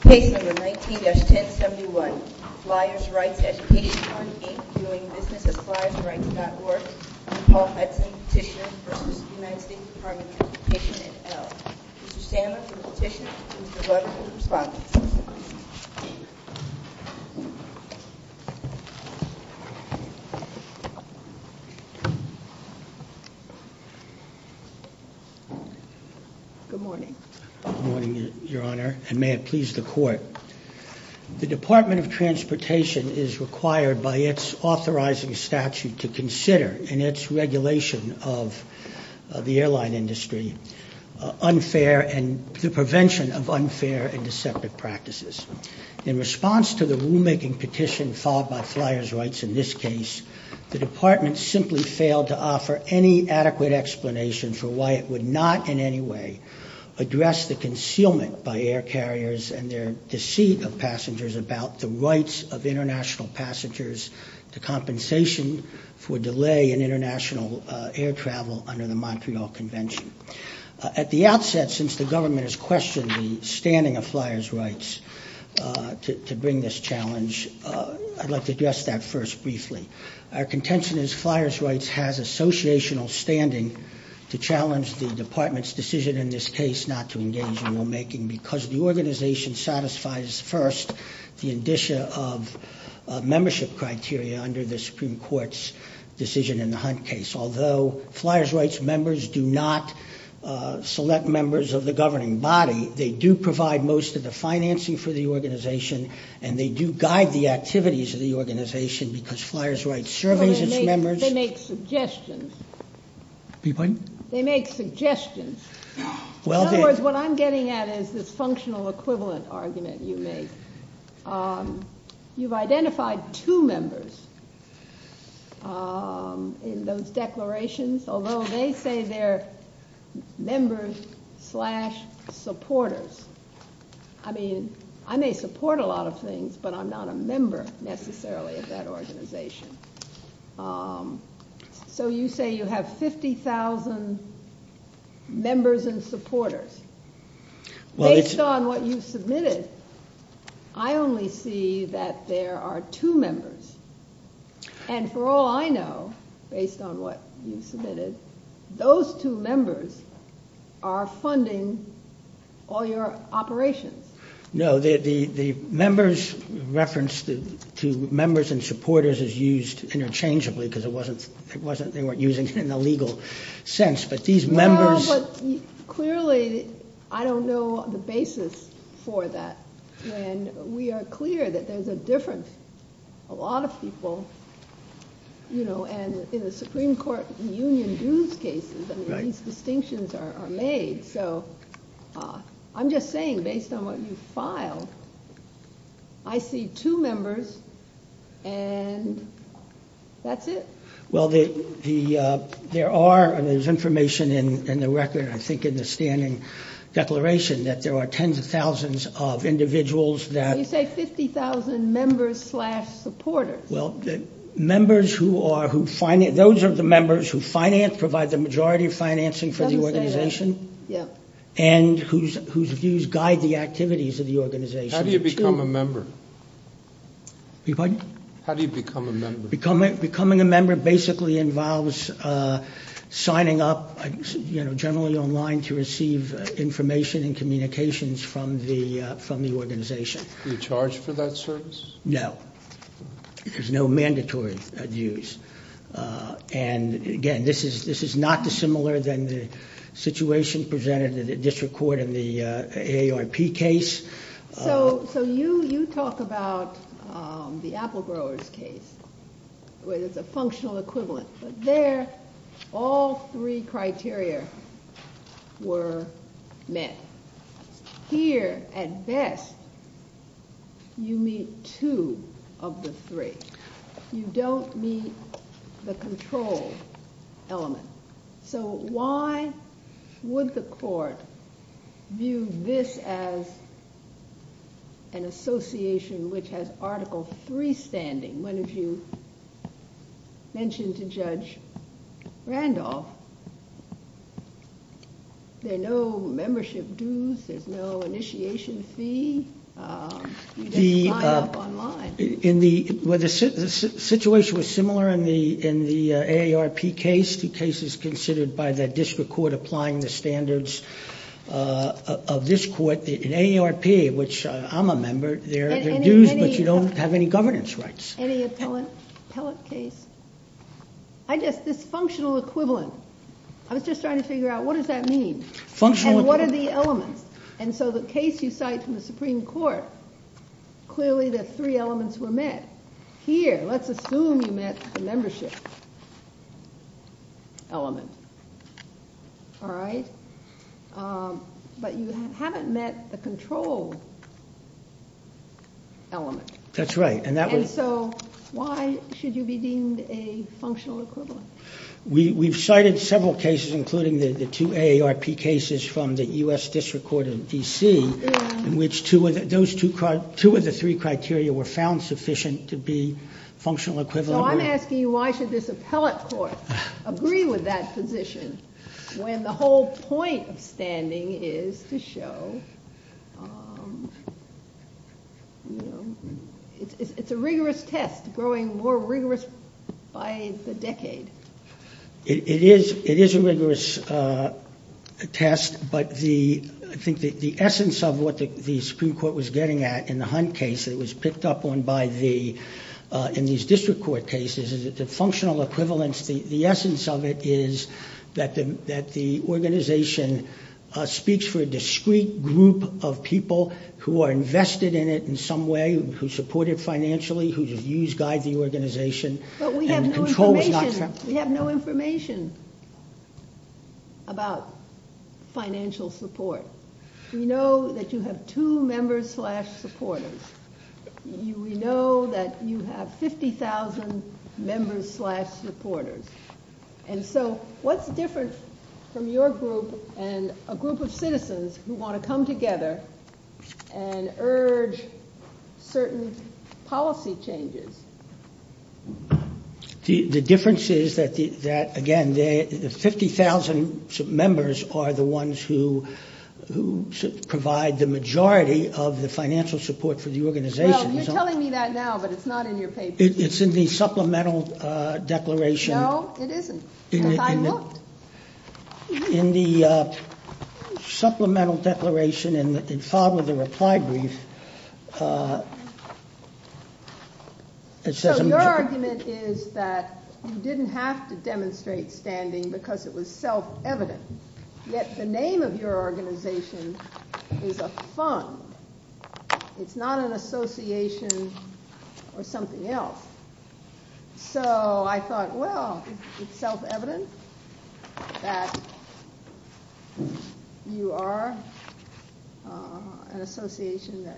Page number 19-1071, Flyers Rights Education Fund, Inc., doing business at flyersrights.org. Paul Hudson, Petitioner v. United States Department of Education, et al. Mr. Sandler, Petitioner, and Mr. Rutledge, Respondent. Good morning. Good morning, Your Honor, and may it please the Court. The Department of Transportation is required by its authorizing statute to consider, in its regulation of the airline industry, the prevention of unfair and deceptive practices. In response to the rulemaking petition followed by Flyers Rights in this case, the Department simply failed to offer any adequate explanation for why it would not, in any way, address the concealment by air carriers and their deceit of passengers about the rights of international passengers to compensation for delay in international air travel under the Montreal Convention. At the outset, since the government has questioned the standing of Flyers Rights to bring this challenge, I'd like to address that first briefly. Our contention is Flyers Rights has associational standing to challenge the Department's decision in this case not to engage in rulemaking because the organization satisfies, first, the indicia of membership criteria under the Supreme Court's decision in the Hunt case. Although Flyers Rights members do not select members of the governing body, they do provide most of the financing for the organization, and they do guide the activities of the organization because Flyers Rights surveys its members. They make suggestions. Beg your pardon? They make suggestions. In other words, what I'm getting at is this functional equivalent argument you make. You've identified two members in those declarations, although they say they're members slash supporters. I mean, I may support a lot of things, but I'm not a member necessarily of that organization. So you say you have 50,000 members and supporters. Based on what you submitted, I only see that there are two members. And for all I know, based on what you submitted, those two members are funding all your operations. No, the members reference to members and supporters is used interchangeably because they weren't using it in a legal sense, but these members. Well, but clearly I don't know the basis for that when we are clear that there's a difference. A lot of people, you know, and in the Supreme Court, the union dues cases, I mean, these distinctions are made. So I'm just saying, based on what you filed, I see two members and that's it. Well, there are, and there's information in the record, I think in the standing declaration, that there are tens of thousands of individuals that. You say 50,000 members slash supporters. Well, members who are, those are the members who finance, provide the majority of financing for the organization, and whose views guide the activities of the organization. How do you become a member? Beg your pardon? How do you become a member? Becoming a member basically involves signing up, you know, generally online to receive information and communications from the organization. Are you charged for that service? No. There's no mandatory dues. And again, this is not dissimilar than the situation presented at the district court in the AARP case. So you talk about the Apple Growers case, where there's a functional equivalent. But there, all three criteria were met. Here, at best, you meet two of the three. You don't meet the control element. So why would the court view this as an association which has Article III standing? One of you mentioned to Judge Randolph, there are no membership dues. There's no initiation fee. You just sign up online. The situation was similar in the AARP case. The case is considered by the district court applying the standards of this court. In AARP, which I'm a member, there are dues, but you don't have any governance rights. Any appellate case? I guess this functional equivalent, I was just trying to figure out what does that mean? And what are the elements? And so the case you cite from the Supreme Court, clearly the three elements were met. Here, let's assume you met the membership element. All right? But you haven't met the control element. That's right. And so why should you be deemed a functional equivalent? We've cited several cases, including the two AARP cases from the U.S. District Court in D.C., in which two of the three criteria were found sufficient to be functional equivalent. So I'm asking you why should this appellate court agree with that position when the whole point of standing is to show it's a rigorous test, growing more rigorous by the decade? It is a rigorous test, but I think the essence of what the Supreme Court was getting at in the Hunt case that was picked up on in these district court cases is that the functional equivalence, the essence of it is that the organization speaks for a discrete group of people who are invested in it in some way, who support it financially, who guide the organization. But we have no information about financial support. We know that you have two members-slash-supporters. We know that you have 50,000 members-slash-supporters. And so what's different from your group and a group of citizens who want to come together and urge certain policy changes? The difference is that, again, the 50,000 members are the ones who provide the majority of the financial support for the organization. Well, you're telling me that now, but it's not in your papers. It's in the supplemental declaration. No, it isn't. I looked. In the supplemental declaration and in part of the reply brief, it says... So your argument is that you didn't have to demonstrate standing because it was self-evident, yet the name of your organization is a fund. It's not an association or something else. So I thought, well, it's self-evident that you are an association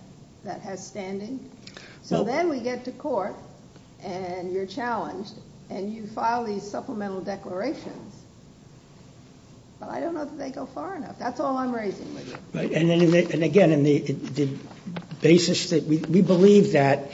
that has standing. So then we get to court, and you're challenged, and you file these supplemental declarations. But I don't know if they go far enough. That's all I'm raising with you. And, again, the basis that we believe that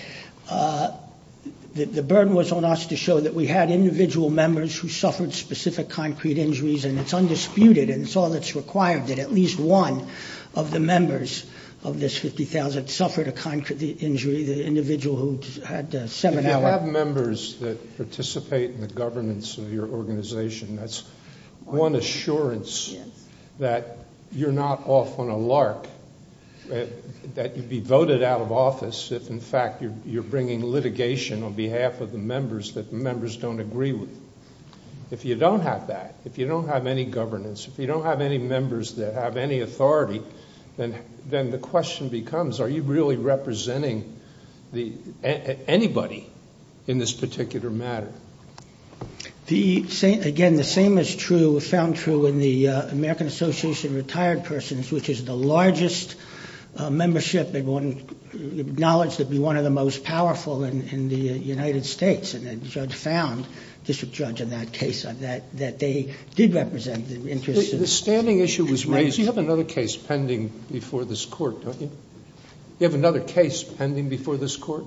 the burden was on us to show that we had individual members who suffered specific concrete injuries, and it's undisputed and it's all that's required that at least one of the members of this 50,000 suffered a concrete injury, the individual who had seven hours. If you have members that participate in the governance of your organization, that's one assurance that you're not off on a lark, that you'd be voted out of office if, in fact, you're bringing litigation on behalf of the members that the members don't agree with. If you don't have that, if you don't have any governance, if you don't have any members that have any authority, then the question becomes, are you really representing anybody in this particular matter? Again, the same is true, found true in the American Association of Retired Persons, which is the largest membership, acknowledged to be one of the most powerful in the United States. And the judge found, district judge, in that case that they did represent the interests. The standing issue was raised. You have another case pending before this court, don't you? You have another case pending before this court?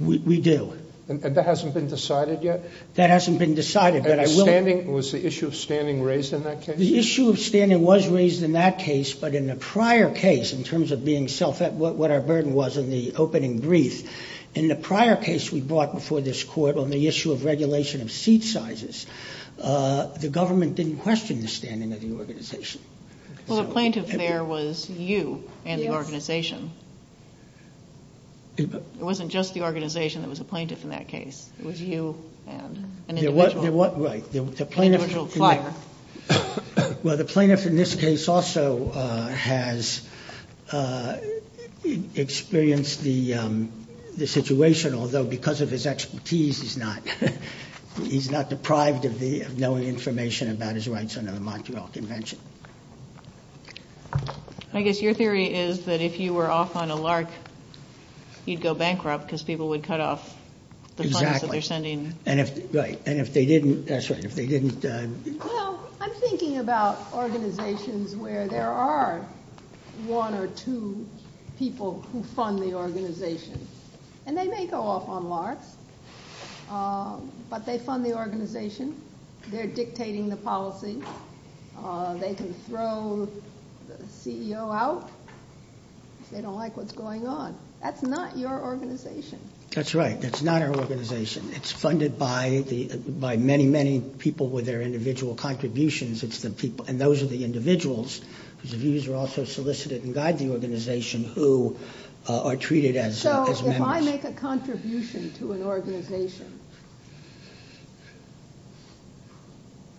We do. And that hasn't been decided yet? That hasn't been decided. Was the issue of standing raised in that case? The issue of standing was raised in that case, but in the prior case, in terms of what our burden was in the opening brief, in the prior case we brought before this court on the issue of regulation of seat sizes, the government didn't question the standing of the organization. Well, the plaintiff there was you and the organization. It wasn't just the organization that was a plaintiff in that case. It was you and an individual. Right. An individual flyer. Well, the plaintiff in this case also has experienced the situation, although because of his expertise he's not deprived of knowing information about his rights under the Montreal Convention. I guess your theory is that if you were off on a LARC, you'd go bankrupt because people would cut off the funds that they're sending. Exactly. Right. And if they didn't, that's right, if they didn't. Well, I'm thinking about organizations where there are one or two people who fund the organization. And they may go off on LARCs, but they fund the organization. They're dictating the policy. They can throw the CEO out if they don't like what's going on. That's not your organization. That's right. That's not our organization. It's funded by many, many people with their individual contributions, and those are the individuals whose views are also solicited and guide the organization who are treated as members. If I make a contribution to an organization,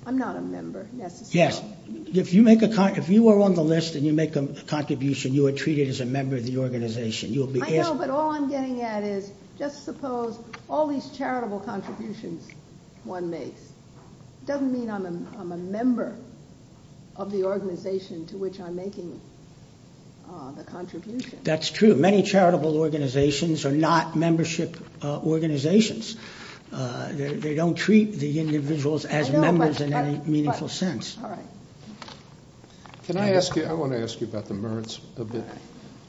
I'm not a member necessarily. Yes. If you are on the list and you make a contribution, you are treated as a member of the organization. I know, but all I'm getting at is just suppose all these charitable contributions one makes doesn't mean I'm a member of the organization to which I'm making the contribution. That's true. Many charitable organizations are not membership organizations. They don't treat the individuals as members in any meaningful sense. All right. Can I ask you? I want to ask you about the MIRDS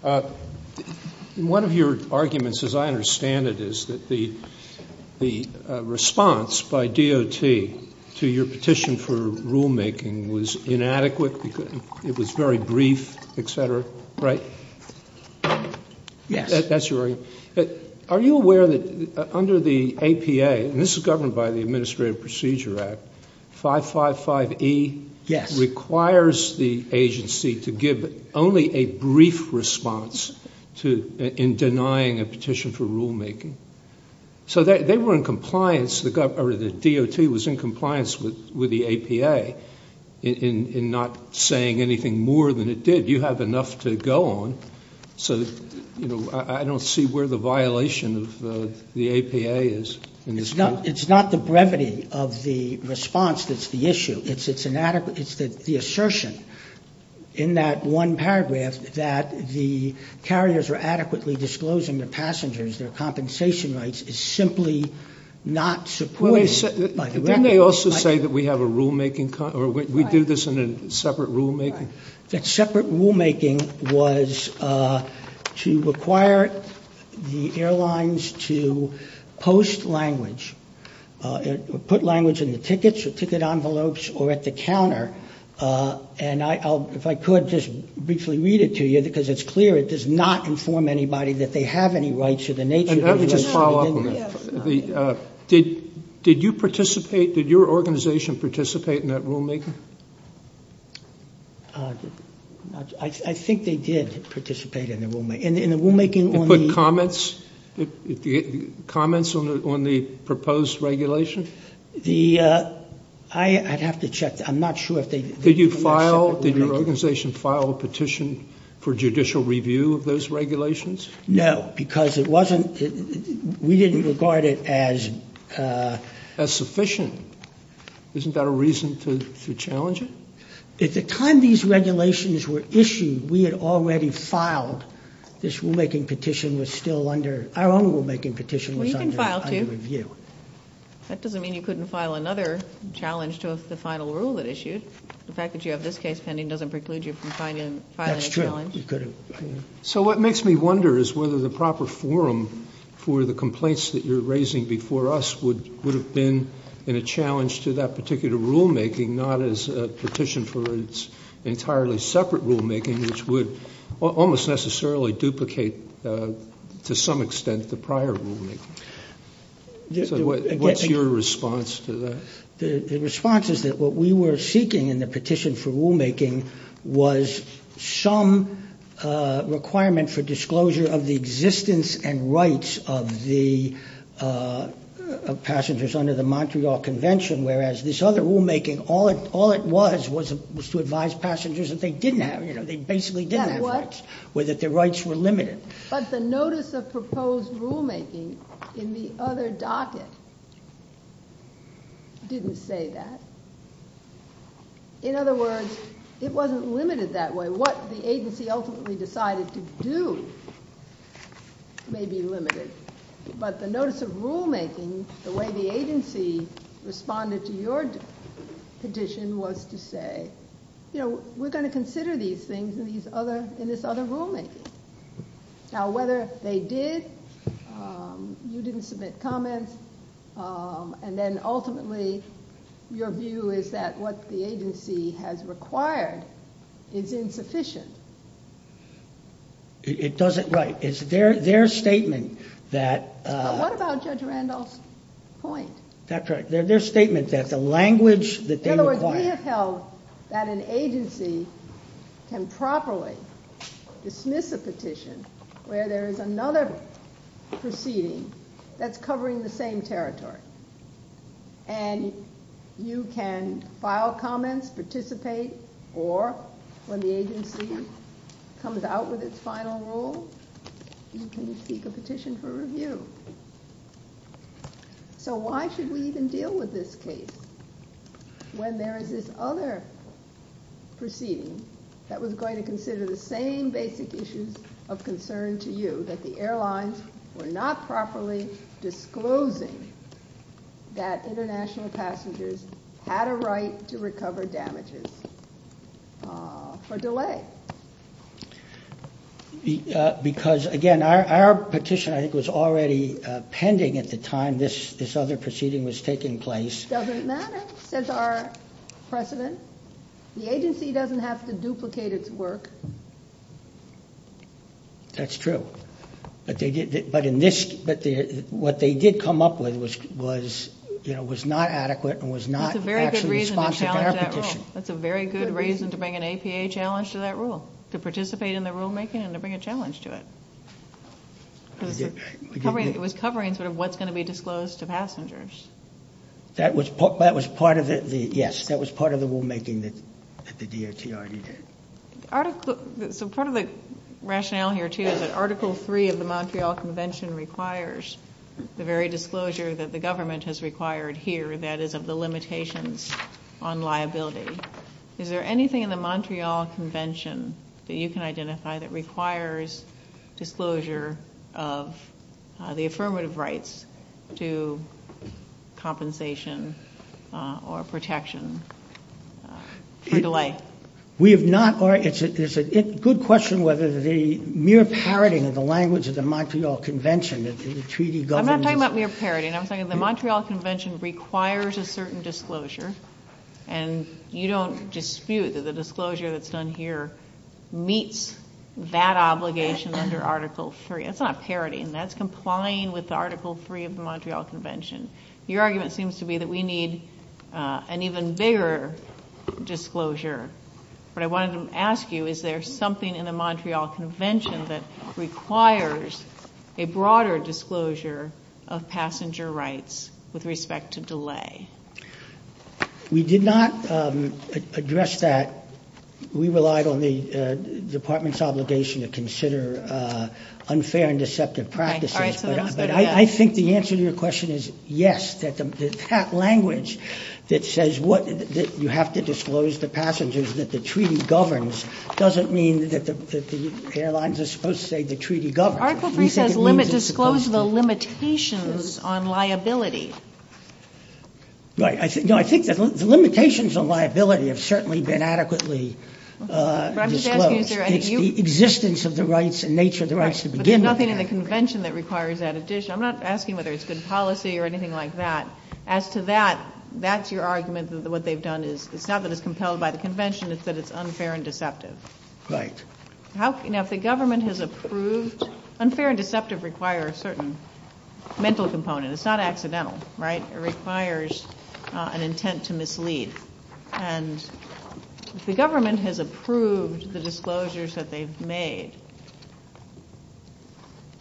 a bit. One of your arguments, as I understand it, is that the response by DOT to your petition for rulemaking was inadequate. It was very brief, et cetera, right? Yes. That's your argument. Are you aware that under the APA, and this is governed by the Administrative Procedure Act, 555E requires the agency to give only a brief response in denying a petition for rulemaking. So they were in compliance, the DOT was in compliance with the APA in not saying anything more than it did. You have enough to go on. So I don't see where the violation of the APA is. It's not the brevity of the response that's the issue. It's the assertion in that one paragraph that the carriers are adequately disclosing their passengers, their compensation rights, is simply not supported by the record. Didn't they also say that we have a rulemaking, or we do this in a separate rulemaking? That separate rulemaking was to require the airlines to post language, put language in the tickets or ticket envelopes or at the counter, and if I could just briefly read it to you because it's clear it does not inform anybody that they have any rights of the nature. Let me just follow up on that. Did you participate, did your organization participate in that rulemaking? I think they did participate in the rulemaking. They put comments on the proposed regulation? I'd have to check. Did your organization file a petition for judicial review of those regulations? No, because we didn't regard it as sufficient. Isn't that a reason to challenge it? At the time these regulations were issued, we had already filed this rulemaking petition. Our own rulemaking petition was under review. That doesn't mean you couldn't file another challenge to the final rule that issued. The fact that you have this case pending doesn't preclude you from filing a challenge. That's true. So what makes me wonder is whether the proper forum for the complaints that you're raising before us would have been in a challenge to that particular rulemaking, not as a petition for its entirely separate rulemaking, which would almost necessarily duplicate to some extent the prior rulemaking. What's your response to that? The response is that what we were seeking in the petition for rulemaking was some requirement for disclosure of the existence and rights of the passengers under the Montreal Convention, whereas this other rulemaking, all it was was to advise passengers that they didn't have, they basically didn't have rights, or that their rights were limited. But the notice of proposed rulemaking in the other docket didn't say that. In other words, it wasn't limited that way. What the agency ultimately decided to do may be limited, but the notice of rulemaking, the way the agency responded to your petition, was to say, you know, we're going to consider these things in this other rulemaking. Now, whether they did, you didn't submit comments, and then ultimately your view is that what the agency has required is insufficient. It doesn't, right. It's their statement that... But what about Judge Randolph's point? That's right. Their statement that the language that they require... In other words, we have held that an agency can properly dismiss a petition where there is another proceeding that's covering the same territory. And you can file comments, participate, or when the agency comes out with its final rule, you can seek a petition for review. So why should we even deal with this case when there is this other proceeding that was going to consider the same basic issues of concern to you, that the airlines were not properly disclosing that international passengers had a right to recover damages for delay? Because, again, our petition, I think, was already pending at the time this other proceeding was taking place. Doesn't matter, says our precedent. The agency doesn't have to duplicate its work. That's true. But what they did come up with was not adequate and was not actually responsive to our petition. That's a very good reason to bring an APA challenge to that rule, to participate in the rulemaking and to bring a challenge to it. It was covering sort of what's going to be disclosed to passengers. That was part of it, yes. That was part of the rulemaking that the DOT already did. So part of the rationale here, too, is that Article 3 of the Montreal Convention requires the very disclosure that the government has required here, that is, of the limitations on liability. Is there anything in the Montreal Convention that you can identify that requires disclosure of the affirmative rights to compensation or protection for delay? We have not. It's a good question whether the mere parroting of the language of the Montreal Convention that the treaty governs. I'm not talking about mere parroting. I'm talking the Montreal Convention requires a certain disclosure, and you don't dispute that the disclosure that's done here meets that obligation under Article 3. That's not parroting. That's complying with Article 3 of the Montreal Convention. Your argument seems to be that we need an even bigger disclosure. What I wanted to ask you, is there something in the Montreal Convention that requires a broader disclosure of passenger rights with respect to delay? We did not address that. We relied on the department's obligation to consider unfair and deceptive practices. But I think the answer to your question is yes, that language that says you have to disclose to passengers that the treaty governs doesn't mean that the airlines are supposed to say the treaty governs. Article 3 says disclose the limitations on liability. I think the limitations on liability have certainly been adequately disclosed. It's the existence of the rights and nature of the rights to begin with. But there's nothing in the convention that requires that addition. I'm not asking whether it's good policy or anything like that. As to that, that's your argument that what they've done is it's not that it's compelled by the convention, it's that it's unfair and deceptive. Right. Now, if the government has approved... Unfair and deceptive require a certain mental component. It's not accidental, right? It requires an intent to mislead. And if the government has approved the disclosures that they've made,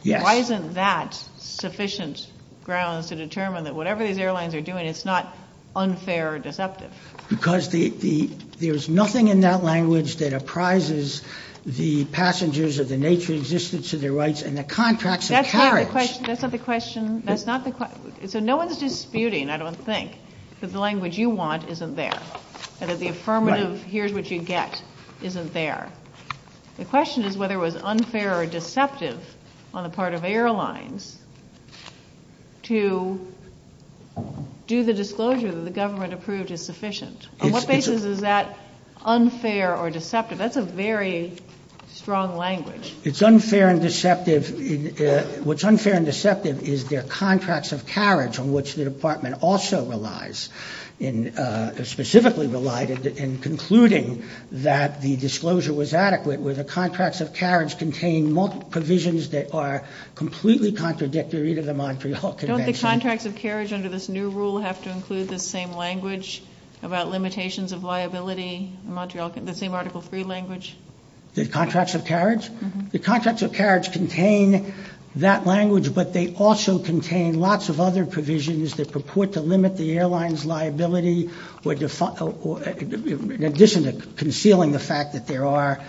why isn't that sufficient grounds to determine that whatever these airlines are doing, it's not unfair or deceptive? Because there's nothing in that language that apprises the passengers of the nature existence of their rights and the contracts of carriage. That's not the question. So no one's disputing, I don't think, that the language you want isn't there and that the affirmative here's what you get isn't there. The question is whether it was unfair or deceptive on the part of airlines to do the disclosure that the government approved is sufficient. On what basis is that unfair or deceptive? That's a very strong language. It's unfair and deceptive. What's unfair and deceptive is their contracts of carriage, on which the department also relies, specifically relied in concluding that the disclosure was adequate, where the contracts of carriage contain multiple provisions that are completely contradictory to the Montreal Convention. Don't the contracts of carriage under this new rule have to include the same language about limitations of liability, the same Article 3 language? The contracts of carriage? The contracts of carriage contain that language, but they also contain lots of other provisions that purport to limit the airline's liability in addition to concealing the fact that there are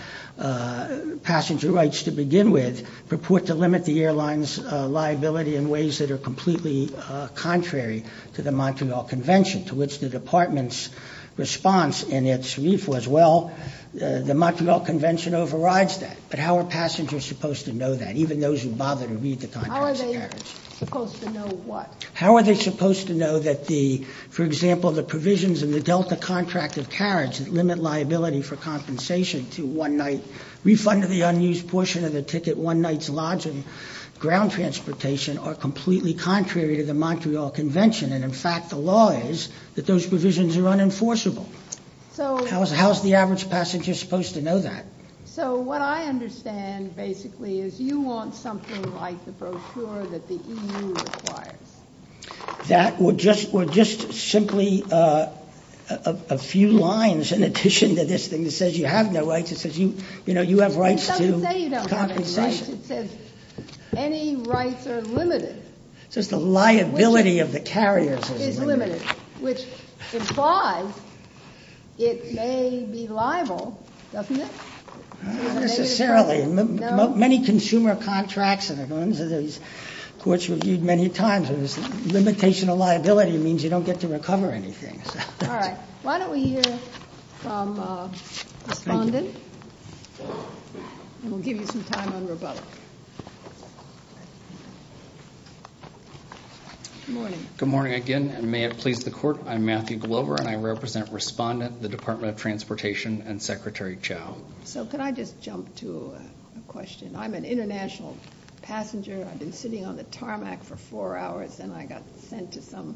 passenger rights to begin with, purport to limit the airline's liability in ways that are completely contrary to the Montreal Convention, to which the department's response in its brief was, well, the Montreal Convention overrides that. But how are passengers supposed to know that, even those who bother to read the contracts of carriage? How are they supposed to know what? The provisions in the Delta contract of carriage that limit liability for compensation to one-night refund of the unused portion of the ticket, one night's lodging, ground transportation, are completely contrary to the Montreal Convention, and in fact the law is that those provisions are unenforceable. How is the average passenger supposed to know that? So what I understand, basically, is you want something like the brochure that the EU requires. That were just simply a few lines in addition to this thing that says you have no rights. It says you have rights to compensation. It doesn't say you don't have any rights. It says any rights are limited. It says the liability of the carriers is limited. Which implies it may be liable, doesn't it? Not necessarily. Many consumer contracts, courts reviewed many times, limitation of liability means you don't get to recover anything. All right. Why don't we hear from Respondent, and we'll give you some time on rebuttal. Good morning. Good morning again, and may it please the Court, I'm Matthew Glover, and I represent Respondent, the Department of Transportation, and Secretary Chao. So could I just jump to a question? I'm an international passenger. I've been sitting on the tarmac for four hours, and I got sent to some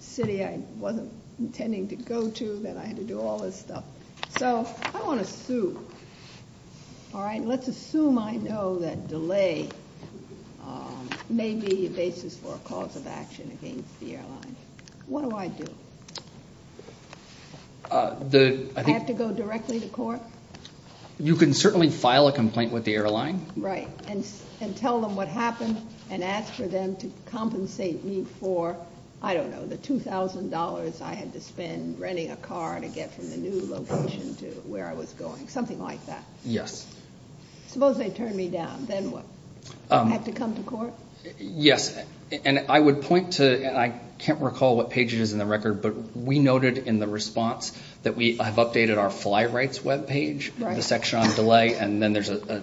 city I wasn't intending to go to. Then I had to do all this stuff. So I want to sue. All right. Let's assume I know that delay may be a basis for a cause of action against the airline. What do I do? I have to go directly to court? You can certainly file a complaint with the airline. Right. And tell them what happened and ask for them to compensate me for, I don't know, the $2,000 I had to spend renting a car to get from the new location to where I was going, something like that. Yes. Suppose they turn me down. Then what? I have to come to court? Yes. I would point to, and I can't recall what page it is in the record, but we noted in the response that we have updated our fly rights webpage, the section on delay, and then there's a,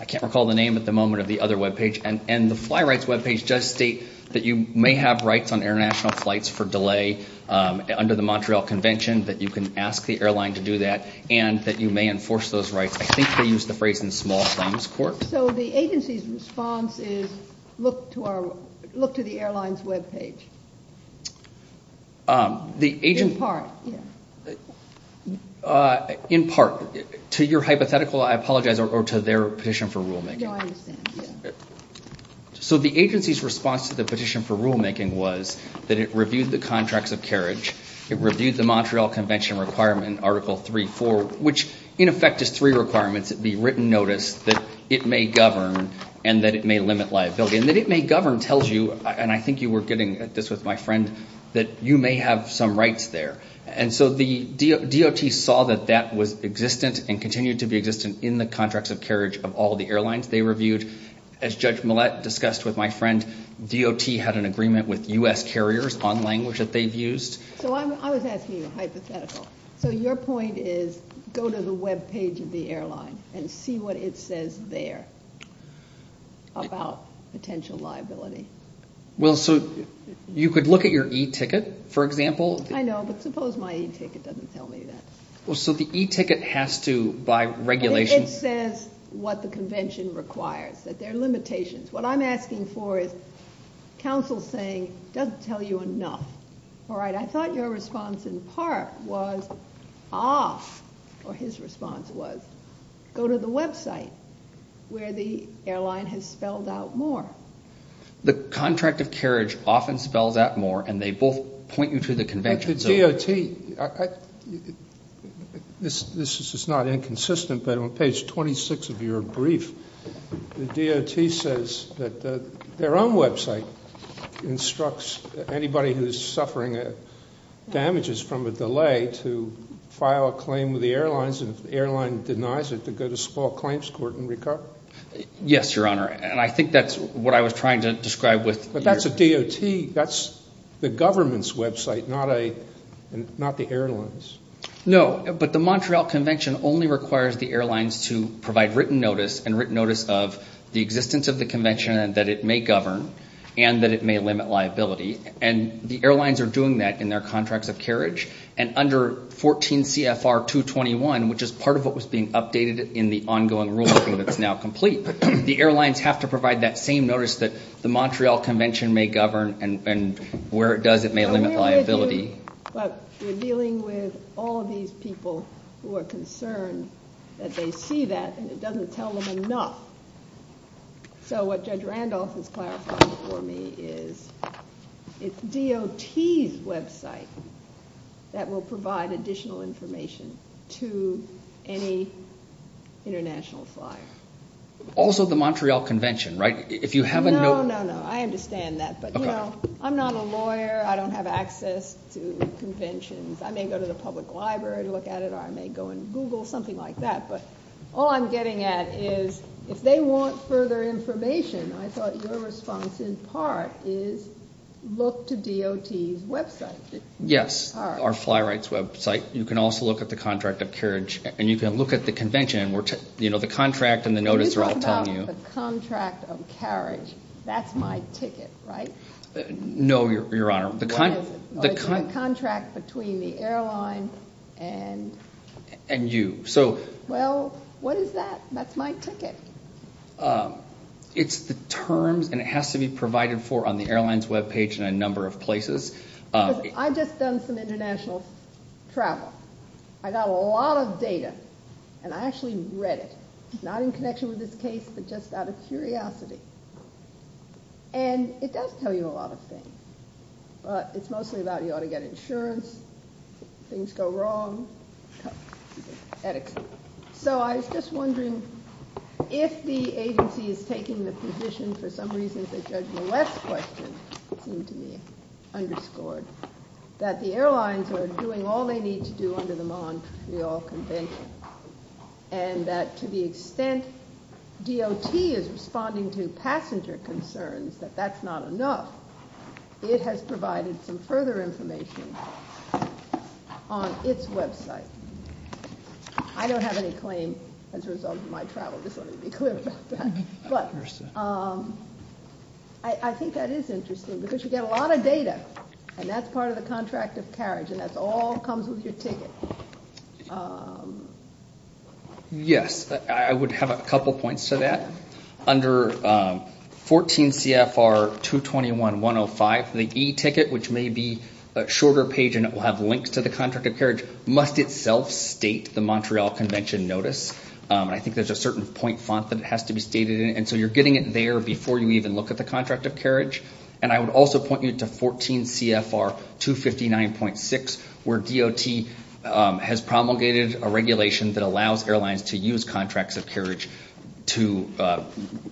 I can't recall the name at the moment, of the other webpage. And the fly rights webpage does state that you may have rights on international flights for delay under the Montreal Convention, that you can ask the airline to do that, and that you may enforce those rights. I think they used the phrase in small claims court. So the agency's response is look to the airline's webpage. In part, yes. In part. To your hypothetical, I apologize, or to their petition for rulemaking. No, I understand, yes. So the agency's response to the petition for rulemaking was that it reviewed the contracts of carriage, it reviewed the Montreal Convention requirement, Article 3.4, which in effect is three requirements, the written notice, that it may govern, and that it may limit liability. And that it may govern tells you, and I think you were getting at this with my friend, that you may have some rights there. And so the DOT saw that that was existent and continued to be existent in the contracts of carriage of all the airlines. They reviewed, as Judge Millett discussed with my friend, DOT had an agreement with U.S. carriers on language that they've used. So I was asking you a hypothetical. So your point is go to the webpage of the airline and see what it says there about potential liability. Well, so you could look at your e-ticket, for example. I know, but suppose my e-ticket doesn't tell me that. Well, so the e-ticket has to, by regulation. It says what the convention requires, that there are limitations. What I'm asking for is counsel saying it doesn't tell you enough. All right, I thought your response in part was off, or his response was go to the website where the airline has spelled out more. The contract of carriage often spells out more, and they both point you to the convention. The DOT, this is not inconsistent, but on page 26 of your brief, the DOT says that their own website instructs anybody who is suffering damages from a delay to file a claim with the airlines, and if the airline denies it to go to small claims court and recover. Yes, Your Honor, and I think that's what I was trying to describe with your DOT, that's the government's website, not the airlines. No, but the Montreal Convention only requires the airlines to provide written notice and written notice of the existence of the convention and that it may govern and that it may limit liability, and the airlines are doing that in their contracts of carriage, and under 14 CFR 221, which is part of what was being updated in the ongoing rulemaking that's now complete, the airlines have to provide that same notice that the Montreal Convention may govern, and where it does, it may limit liability. But we're dealing with all of these people who are concerned that they see that, and it doesn't tell them enough. So what Judge Randolph is clarifying for me is it's DOT's website that will provide additional information to any international flyer. Also the Montreal Convention, right? If you have a note... No, no, no. I understand that, but I'm not a lawyer. I don't have access to conventions. I may go to the public library to look at it, or I may go and Google, something like that. But all I'm getting at is if they want further information, I thought your response in part is look to DOT's website. Yes, our fly rights website. You can also look at the contract of carriage, and you can look at the convention. You know, the contract and the notice are all telling you... When you talk about the contract of carriage, that's my ticket, right? No, Your Honor. What is it? It's the contract between the airline and... And you, so... Well, what is that? That's my ticket. It's the terms, and it has to be provided for on the airline's webpage in a number of places. I've just done some international travel. I got a lot of data, and I actually read it, not in connection with this case, but just out of curiosity. And, it does tell you a lot of things. It's mostly about you ought to get insurance, things go wrong, et cetera. So, I was just wondering if the agency is taking the position, for some reason, that Judge Millett's question seemed to be underscored, that the airlines are doing all they need to do under the Montreal Convention, and that to the extent DOT is responding to passenger concerns, that that's not enough. It has provided some further information on its website. I don't have any claim as a result of my travel. Just let me be clear about that. But, I think that is interesting, because you get a lot of data, and that's part of the contract of carriage, and that all comes with your ticket. Yes, I would have a couple points to that. Under 14 CFR 221.105, the e-ticket, which may be a shorter page, and it will have links to the contract of carriage, must itself state the Montreal Convention notice. I think there's a certain point font that it has to be stated in, and so you're getting it there before you even look at the contract of carriage. And I would also point you to 14 CFR 259.6, where DOT has promulgated a regulation that allows airlines to use contracts of carriage to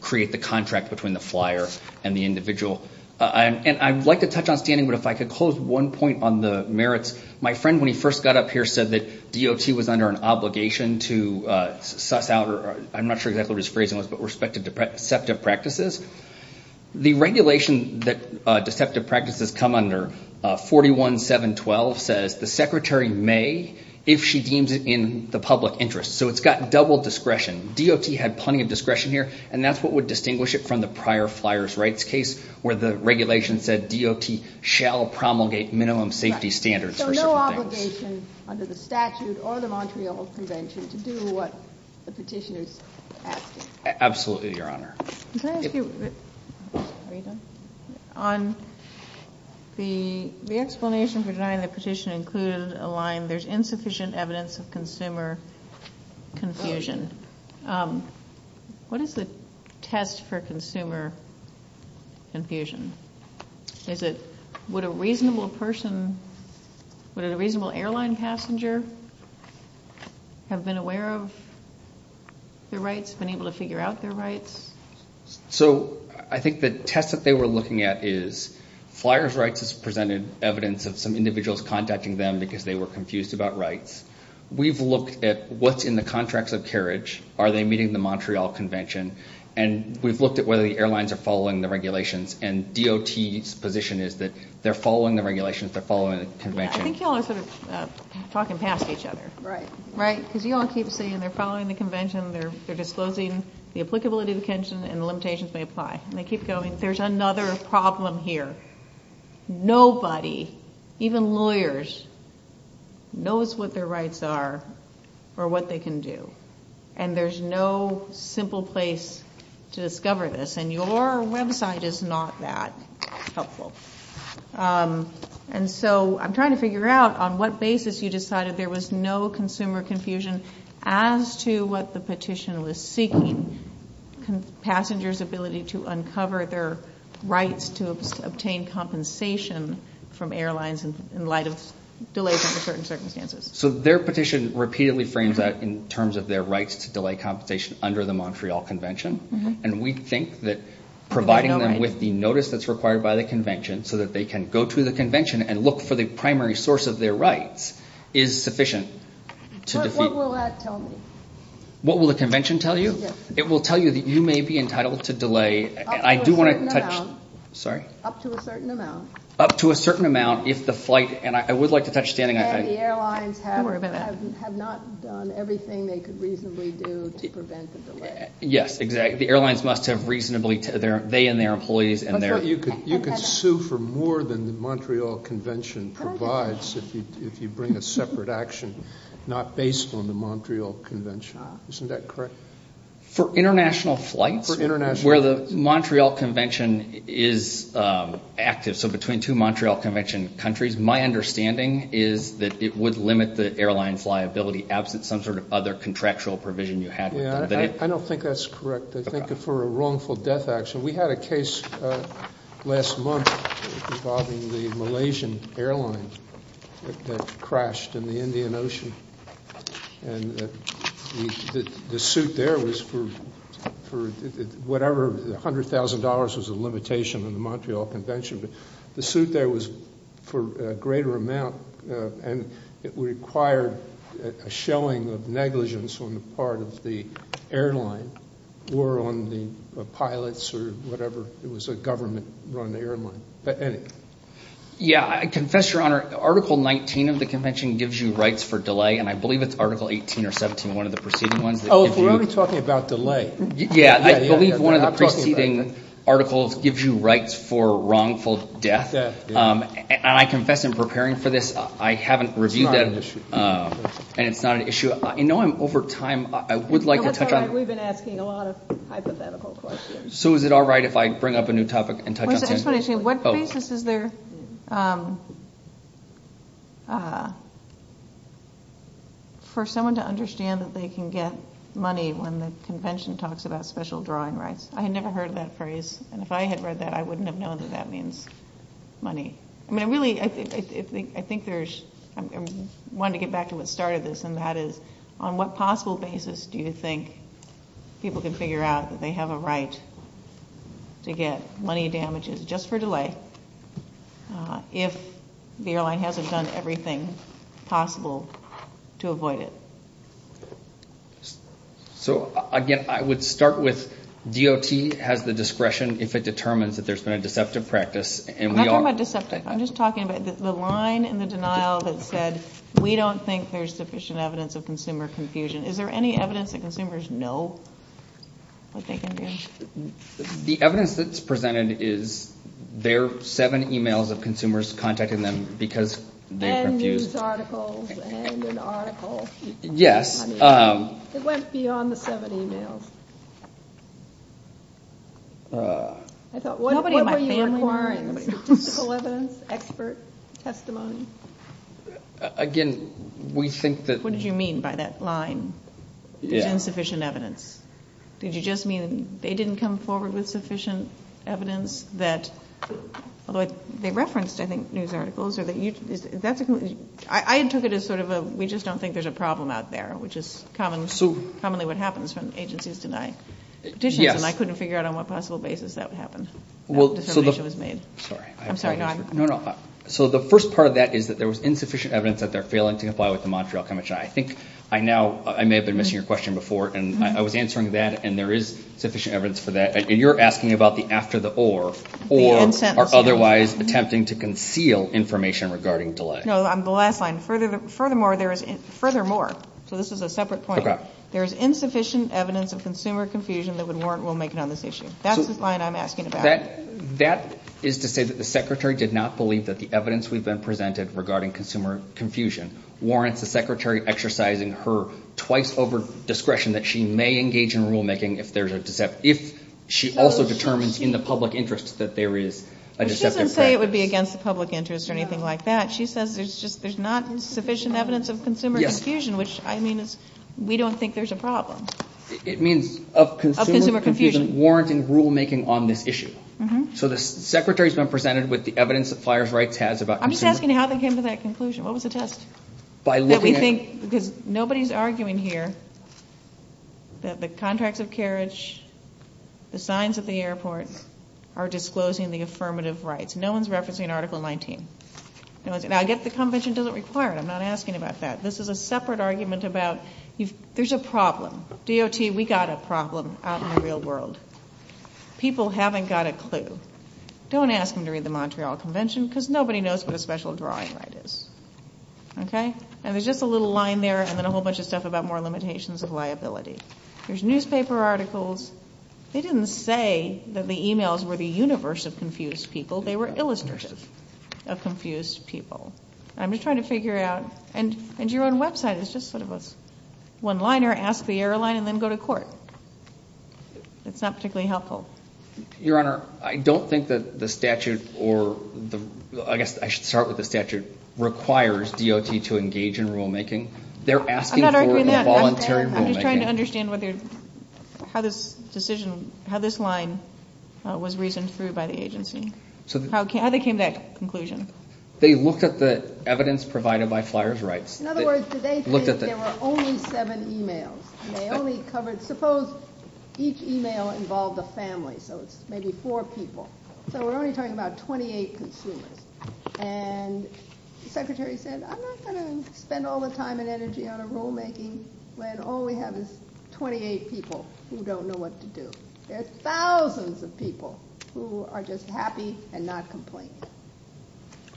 create the contract between the flyer and the individual. And I'd like to touch on standing, but if I could close one point on the merits. My friend, when he first got up here, said that DOT was under an obligation to suss out, I'm not sure exactly what his phrasing was, but respect to deceptive practices. The regulation that deceptive practices come under, 41.712, says the secretary may, if she deems it in the public interest. So it's got double discretion. DOT had plenty of discretion here, and that's what would distinguish it from the prior flyer's rights case, where the regulation said DOT shall promulgate minimum safety standards for certain things. So no obligation under the statute or the Montreal Convention to do what the petitioner's asking. Absolutely, Your Honor. Can I ask you, on the explanation for denying the petition included a line, there's insufficient evidence of consumer confusion. What is the test for consumer confusion? Is it would a reasonable person, would a reasonable airline passenger have been aware of their rights, So I think the test that they were looking at is flyer's rights presented evidence of some individuals contacting them because they were confused about rights. We've looked at what's in the contracts of carriage, are they meeting the Montreal Convention, and we've looked at whether the airlines are following the regulations, and DOT's position is that they're following the regulations, they're following the Convention. I think you all are sort of talking past each other. Right. Right, because you all keep saying they're following the Convention, they're disclosing the applicability of the Convention, and the limitations may apply, and they keep going. There's another problem here. Nobody, even lawyers, knows what their rights are or what they can do, and there's no simple place to discover this, and your website is not that helpful. And so I'm trying to figure out on what basis you decided there was no consumer confusion as to what the petition was seeking, passengers' ability to uncover their rights to obtain compensation from airlines in light of delays under certain circumstances. So their petition repeatedly frames that in terms of their rights to delay compensation under the Montreal Convention, and we think that providing them with the notice that's required by the Convention so that they can go to the Convention and look for the primary source of their rights is sufficient. What will that tell me? What will the Convention tell you? Yes. It will tell you that you may be entitled to delay. Up to a certain amount. Sorry? Up to a certain amount. Up to a certain amount if the flight, and I would like to touch standing on that. And the airlines have not done everything they could reasonably do to prevent the delay. Yes, exactly. The airlines must have reasonably, they and their employees and their… You can sue for more than the Montreal Convention provides if you bring a separate action not based on the Montreal Convention. Isn't that correct? For international flights? For international flights. Where the Montreal Convention is active, so between two Montreal Convention countries, my understanding is that it would limit the airline's liability absent some sort of other contractual provision you have. I don't think that's correct. I think for a wrongful death action. We had a case last month involving the Malaysian airline that crashed in the Indian Ocean. And the suit there was for whatever, $100,000 was the limitation on the Montreal Convention. But the suit there was for a greater amount, and it required a shelling of negligence on the part of the airline or on the pilots or whatever. It was a government-run airline. But anyway. Yeah, I confess, Your Honor, Article 19 of the Convention gives you rights for delay, and I believe it's Article 18 or 17, one of the preceding ones. Oh, we're only talking about delay. Yeah, I believe one of the preceding articles gives you rights for wrongful death. And I confess in preparing for this, I haven't reviewed that. It's not an issue. And it's not an issue. I know I'm over time. I would like to touch on it. We've been asking a lot of hypothetical questions. So is it all right if I bring up a new topic and touch on it? What basis is there for someone to understand that they can get money when the Convention talks about special drawing rights? I had never heard of that phrase, and if I had read that, I wouldn't have known that that means money. I wanted to get back to what started this, and that is on what possible basis do you think people can figure out that they have a right to get money damages just for delay if the airline hasn't done everything possible to avoid it? So, again, I would start with DOT has the discretion if it determines that there's been a deceptive practice. I'm not talking about deceptive. I'm just talking about the line and the denial that said we don't think there's sufficient evidence of consumer confusion. Is there any evidence that consumers know what they can do? The evidence that's presented is there are seven emails of consumers contacting them because they're confused. And news articles and an article. Yes. It went beyond the seven emails. I thought, what were you requiring? Nobody in my family knows. Statistical evidence, expert testimony? Again, we think that... What did you mean by that line? Yeah. There's insufficient evidence. Did you just mean they didn't come forward with sufficient evidence that, although they referenced, I think, news articles. I took it as sort of a, we just don't think there's a problem out there, which is commonly what happens when agencies deny petitions. And I couldn't figure out on what possible basis that would happen, that determination was made. I'm sorry. No, no. So the first part of that is that there was insufficient evidence that they're failing to comply with the Montreal Convention. I think I now, I may have been missing your question before, and I was answering that, and there is sufficient evidence for that. And you're asking about the after the or, or otherwise attempting to conceal information regarding delay. No, the last line. Furthermore, there is, furthermore, so this is a separate point. There is insufficient evidence of consumer confusion that would warrant rulemaking on this issue. That's the line I'm asking about. That is to say that the Secretary did not believe that the evidence we've been presented regarding consumer confusion warrants the Secretary exercising her twice over discretion that she may engage in rulemaking if there's a, if she also determines in the public interest that there is a deceptive practice. But she doesn't say it would be against the public interest or anything like that. She says there's just, there's not sufficient evidence of consumer confusion, which I mean is, we don't think there's a problem. It means of consumer confusion warranting rulemaking on this issue. So the Secretary's been presented with the evidence that Flyers Rights has about consumer confusion. I'm just asking how they came to that conclusion. What was the test? That we think, because nobody's arguing here that the contracts of carriage, the signs at the airport are disclosing the affirmative rights. No one's referencing Article 19. Now, I get the convention doesn't require it. I'm not asking about that. This is a separate argument about, there's a problem. DOT, we got a problem out in the real world. People haven't got a clue. Don't ask them to read the Montreal Convention, because nobody knows what a special drawing right is. Okay? And there's just a little line there, and then a whole bunch of stuff about more limitations of liability. There's newspaper articles. They didn't say that the emails were the universe of confused people. They were illustrative of confused people. I'm just trying to figure out, and your own website is just sort of a one-liner, ask the airline, and then go to court. It's not particularly helpful. Your Honor, I don't think that the statute, or I guess I should start with the statute, requires DOT to engage in rulemaking. They're asking for involuntary rulemaking. I'm not arguing that. I'm just trying to understand how this line was reasoned through by the agency, how they came to that conclusion. They looked at the evidence provided by Flyers Rights. In other words, did they think there were only seven emails? Suppose each email involved a family, so it's maybe four people. So we're only talking about 28 consumers. And the secretary said, I'm not going to spend all the time and energy on a rulemaking when all we have is 28 people who don't know what to do. There are thousands of people who are just happy and not complaining.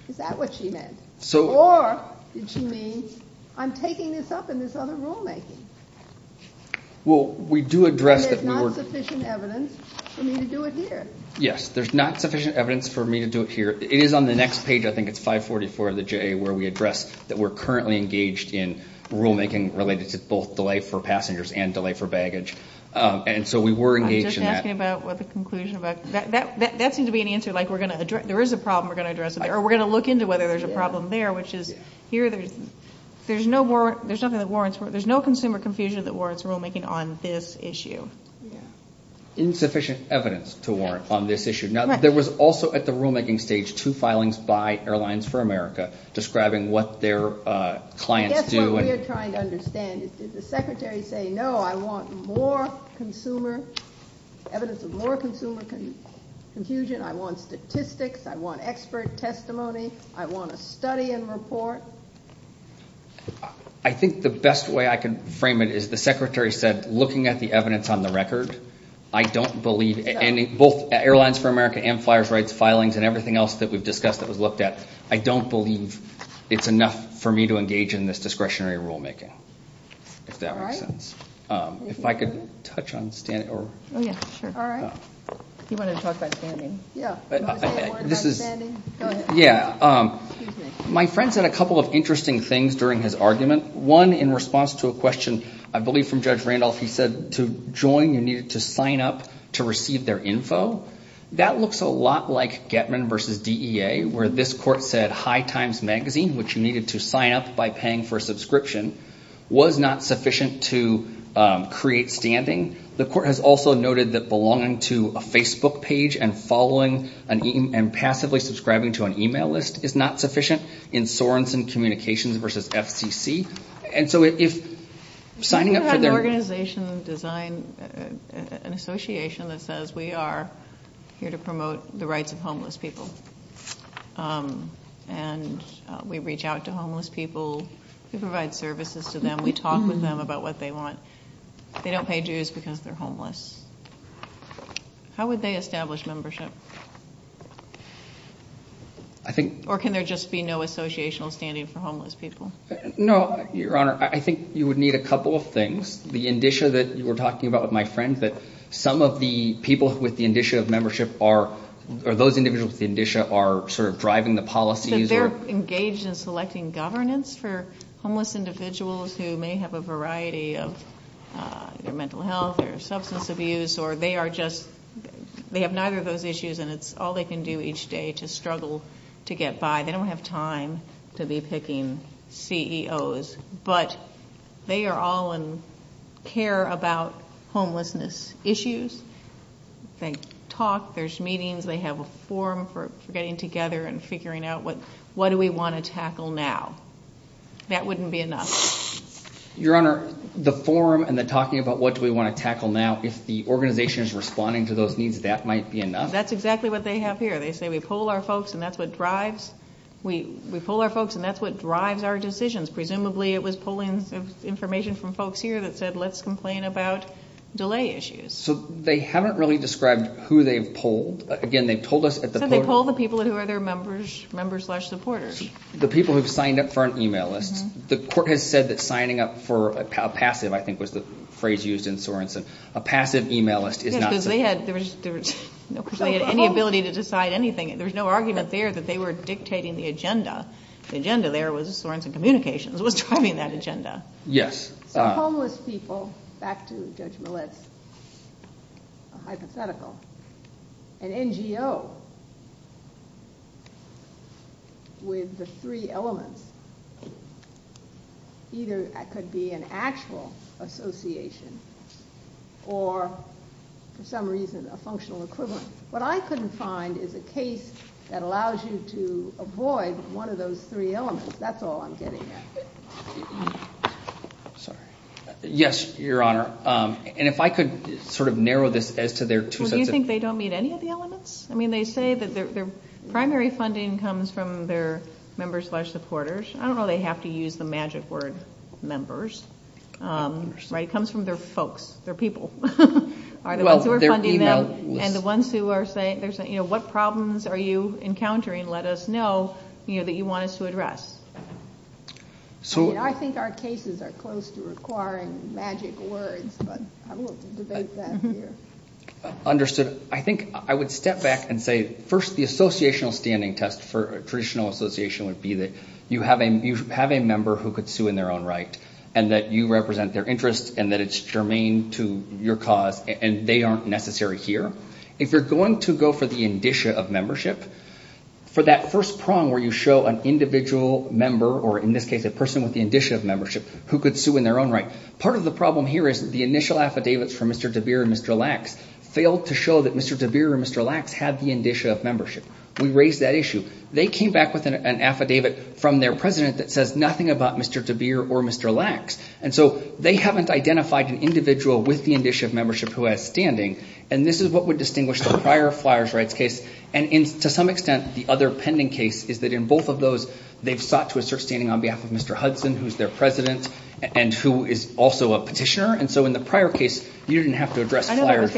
Is that what she meant? Or did she mean, I'm taking this up in this other rulemaking? There's not sufficient evidence for me to do it here. Yes, there's not sufficient evidence for me to do it here. It is on the next page, I think it's 544 of the JA, where we address that we're currently engaged in rulemaking related to both delay for passengers and delay for baggage. And so we were engaged in that. I'm just asking about the conclusion. That seems to be an answer, like there is a problem we're going to address. Or we're going to look into whether there's a problem there, which is here there's no consumer confusion that warrants rulemaking on this issue. Insufficient evidence to warrant on this issue. Now, there was also at the rulemaking stage two filings by Airlines for America describing what their clients do. What we're trying to understand is, did the Secretary say, no, I want more consumer, evidence of more consumer confusion, I want statistics, I want expert testimony, I want a study and report? I think the best way I can frame it is the Secretary said, looking at the evidence on the record, I don't believe any, both Airlines for America and Flyers Rights filings and everything else that we've discussed that was looked at, I don't believe it's enough for me to engage in this discretionary rulemaking, if that makes sense. If I could touch on standing. My friend said a couple of interesting things during his argument. One, in response to a question, I believe from Judge Randolph, he said to join you needed to sign up to receive their info. That looks a lot like Getman versus DEA, where this court said High Times Magazine, which you needed to sign up by paying for a subscription, was not sufficient to create standing. The court has also noted that belonging to a Facebook page and following and passively subscribing to an email list is not sufficient in Sorenson Communications versus FCC. And so if signing up for their... Has anyone had an organization design, an association that says, we are here to promote the rights of homeless people. And we reach out to homeless people, we provide services to them, we talk with them about what they want. They don't pay dues because they're homeless. How would they establish membership? Or can there just be no associational standing for homeless people? No, Your Honor. I think you would need a couple of things. The indicia that you were talking about with my friend, that some of the people with the indicia of membership are, or those individuals with the indicia are sort of driving the policies. So they're engaged in selecting governance for homeless individuals who may have a variety of their mental health or substance abuse. Or they are just, they have neither of those issues and it's all they can do each day to struggle to get by. They don't have time to be picking CEOs. But they are all in care about homelessness issues. They talk, there's meetings, they have a forum for getting together and figuring out what do we want to tackle now. That wouldn't be enough. Your Honor, the forum and the talking about what do we want to tackle now, if the organization is responding to those needs, that might be enough. That's exactly what they have here. They say we poll our folks and that's what drives our decisions. Presumably it was polling information from folks here that said let's complain about delay issues. So they haven't really described who they've polled. Again, they've told us at the poll... They said they poll the people who are their members, members slash supporters. The people who have signed up for an email list. The court has said that signing up for a passive, I think was the phrase used in Sorenson, a passive email list is not... Yes, because they had any ability to decide anything. There was no argument there that they were dictating the agenda. The agenda there was Sorenson Communications was driving that agenda. Yes. So homeless people, back to Judge Millitz, a hypothetical. An NGO with the three elements either could be an actual association or for some reason a functional equivalent. What I couldn't find is a case that allows you to avoid one of those three elements. That's all I'm getting at. Sorry. Yes, Your Honor. And if I could sort of narrow this as to their two sets of... Do you think they don't meet any of the elements? I mean they say that their primary funding comes from their members slash supporters. I don't know they have to use the magic word members. It comes from their folks, their people. Are the ones who are funding them and the ones who are saying what problems are you encountering? Let us know that you want us to address. I think our cases are close to requiring magic words, but I will debate that here. Understood. I think I would step back and say first the associational standing test for traditional association would be that you have a member who could sue in their own right and that you represent their interests and that it's germane to your cause and they aren't necessary here. If you're going to go for the indicia of membership, for that first prong where you show an individual member or in this case a person with the indicia of membership who could sue in their own right, part of the problem here is the initial affidavits from Mr. DeBeer and Mr. Lax failed to show that Mr. DeBeer and Mr. Lax had the indicia of membership. We raised that issue. They came back with an affidavit from their president that says nothing about Mr. DeBeer or Mr. Lax. And so they haven't identified an individual with the indicia of membership who has standing. And this is what would distinguish the prior flyers' rights case. And to some extent the other pending case is that in both of those they've sought to assert standing on behalf of Mr. Hudson, who's their president and who is also a petitioner. And so in the prior case you didn't have to address flyers' rights. I know this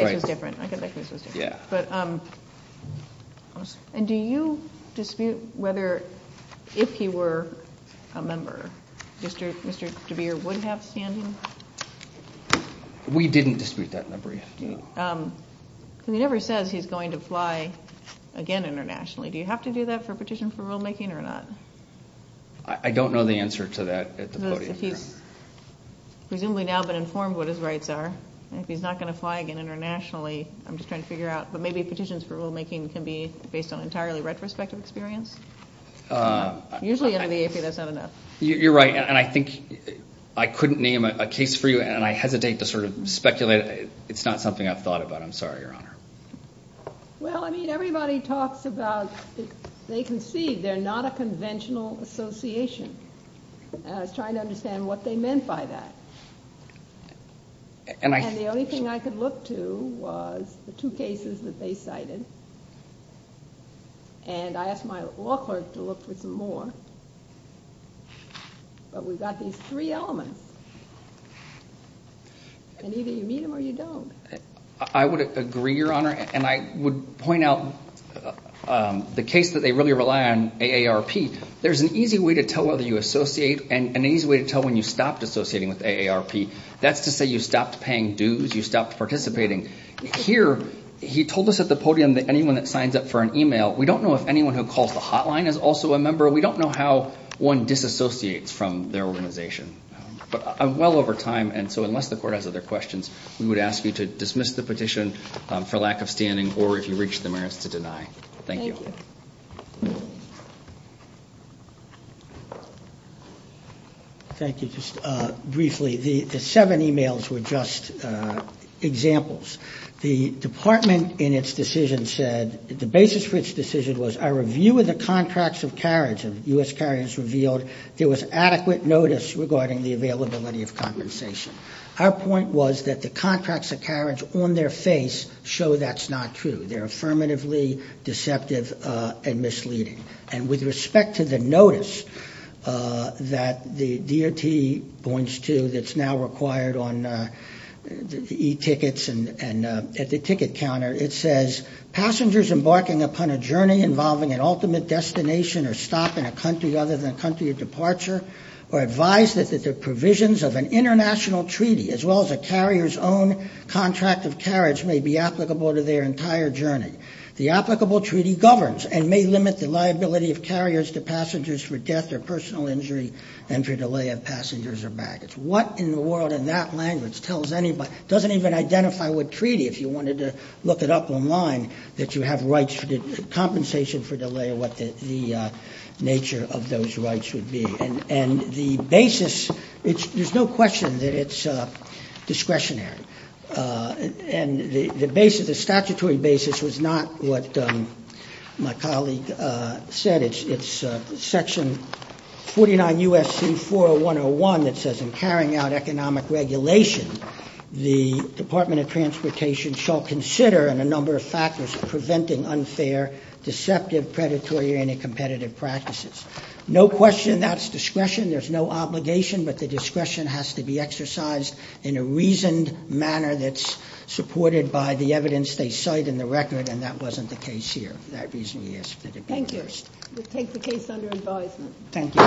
case was different. Yeah. And do you dispute whether if he were a member, Mr. DeBeer would have standing? We didn't dispute that number yet. He never says he's going to fly again internationally. Do you have to do that for a petition for rulemaking or not? I don't know the answer to that at the podium here. If he's presumably now been informed what his rights are, if he's not going to fly again internationally, I'm just trying to figure out, but maybe petitions for rulemaking can be based on entirely retrospective experience? Usually under the AP that's not enough. You're right. And I think I couldn't name a case for you, and I hesitate to sort of speculate. It's not something I've thought about. I'm sorry, Your Honor. Well, I mean, everybody talks about they concede they're not a conventional association. I was trying to understand what they meant by that. And the only thing I could look to was the two cases that they cited. And I asked my law clerk to look for some more. But we've got these three elements, and either you meet them or you don't. I would agree, Your Honor, and I would point out the case that they really rely on, AARP. There's an easy way to tell whether you associate and an easy way to tell when you stopped associating with AARP. That's to say you stopped paying dues, you stopped participating. Here, he told us at the podium that anyone that signs up for an e-mail, we don't know if anyone who calls the hotline is also a member. We don't know how one disassociates from their organization. But I'm well over time, and so unless the court has other questions, we would ask you to dismiss the petition for lack of standing or if you reach the merits to deny. Thank you. Thank you. Thank you. Just briefly, the seven e-mails were just examples. The department in its decision said the basis for its decision was a review of the contracts of carriage. And U.S. carriers revealed there was adequate notice regarding the availability of compensation. Our point was that the contracts of carriage on their face show that's not true. They're affirmatively deceptive and misleading. And with respect to the notice that the DOT points to that's now required on the e-tickets and at the ticket counter, it says, passengers embarking upon a journey involving an ultimate destination or stop in a country other than a country of departure are advised that the provisions of an international treaty, as well as a carrier's own contract of carriage, may be applicable to their entire journey. The applicable treaty governs and may limit the liability of carriers to passengers for death or personal injury and for delay of passengers or baggage. What in the world in that language tells anybody, doesn't even identify what treaty if you wanted to look it up online, that you have rights for compensation for delay or what the nature of those rights would be. And the basis, there's no question that it's discretionary. And the basis, the statutory basis was not what my colleague said. It's section 49 U.S.C. 40101 that says in carrying out economic regulation, the Department of Transportation shall consider in a number of factors preventing unfair, deceptive, predatory, or any competitive practices. No question that's discretion. There's no obligation, but the discretion has to be exercised in a reasoned manner that's supported by the evidence they cite in the record, and that wasn't the case here. For that reason, we ask that it be reversed. Thank you. We'll take the case under advisement. Thank you. Thank you.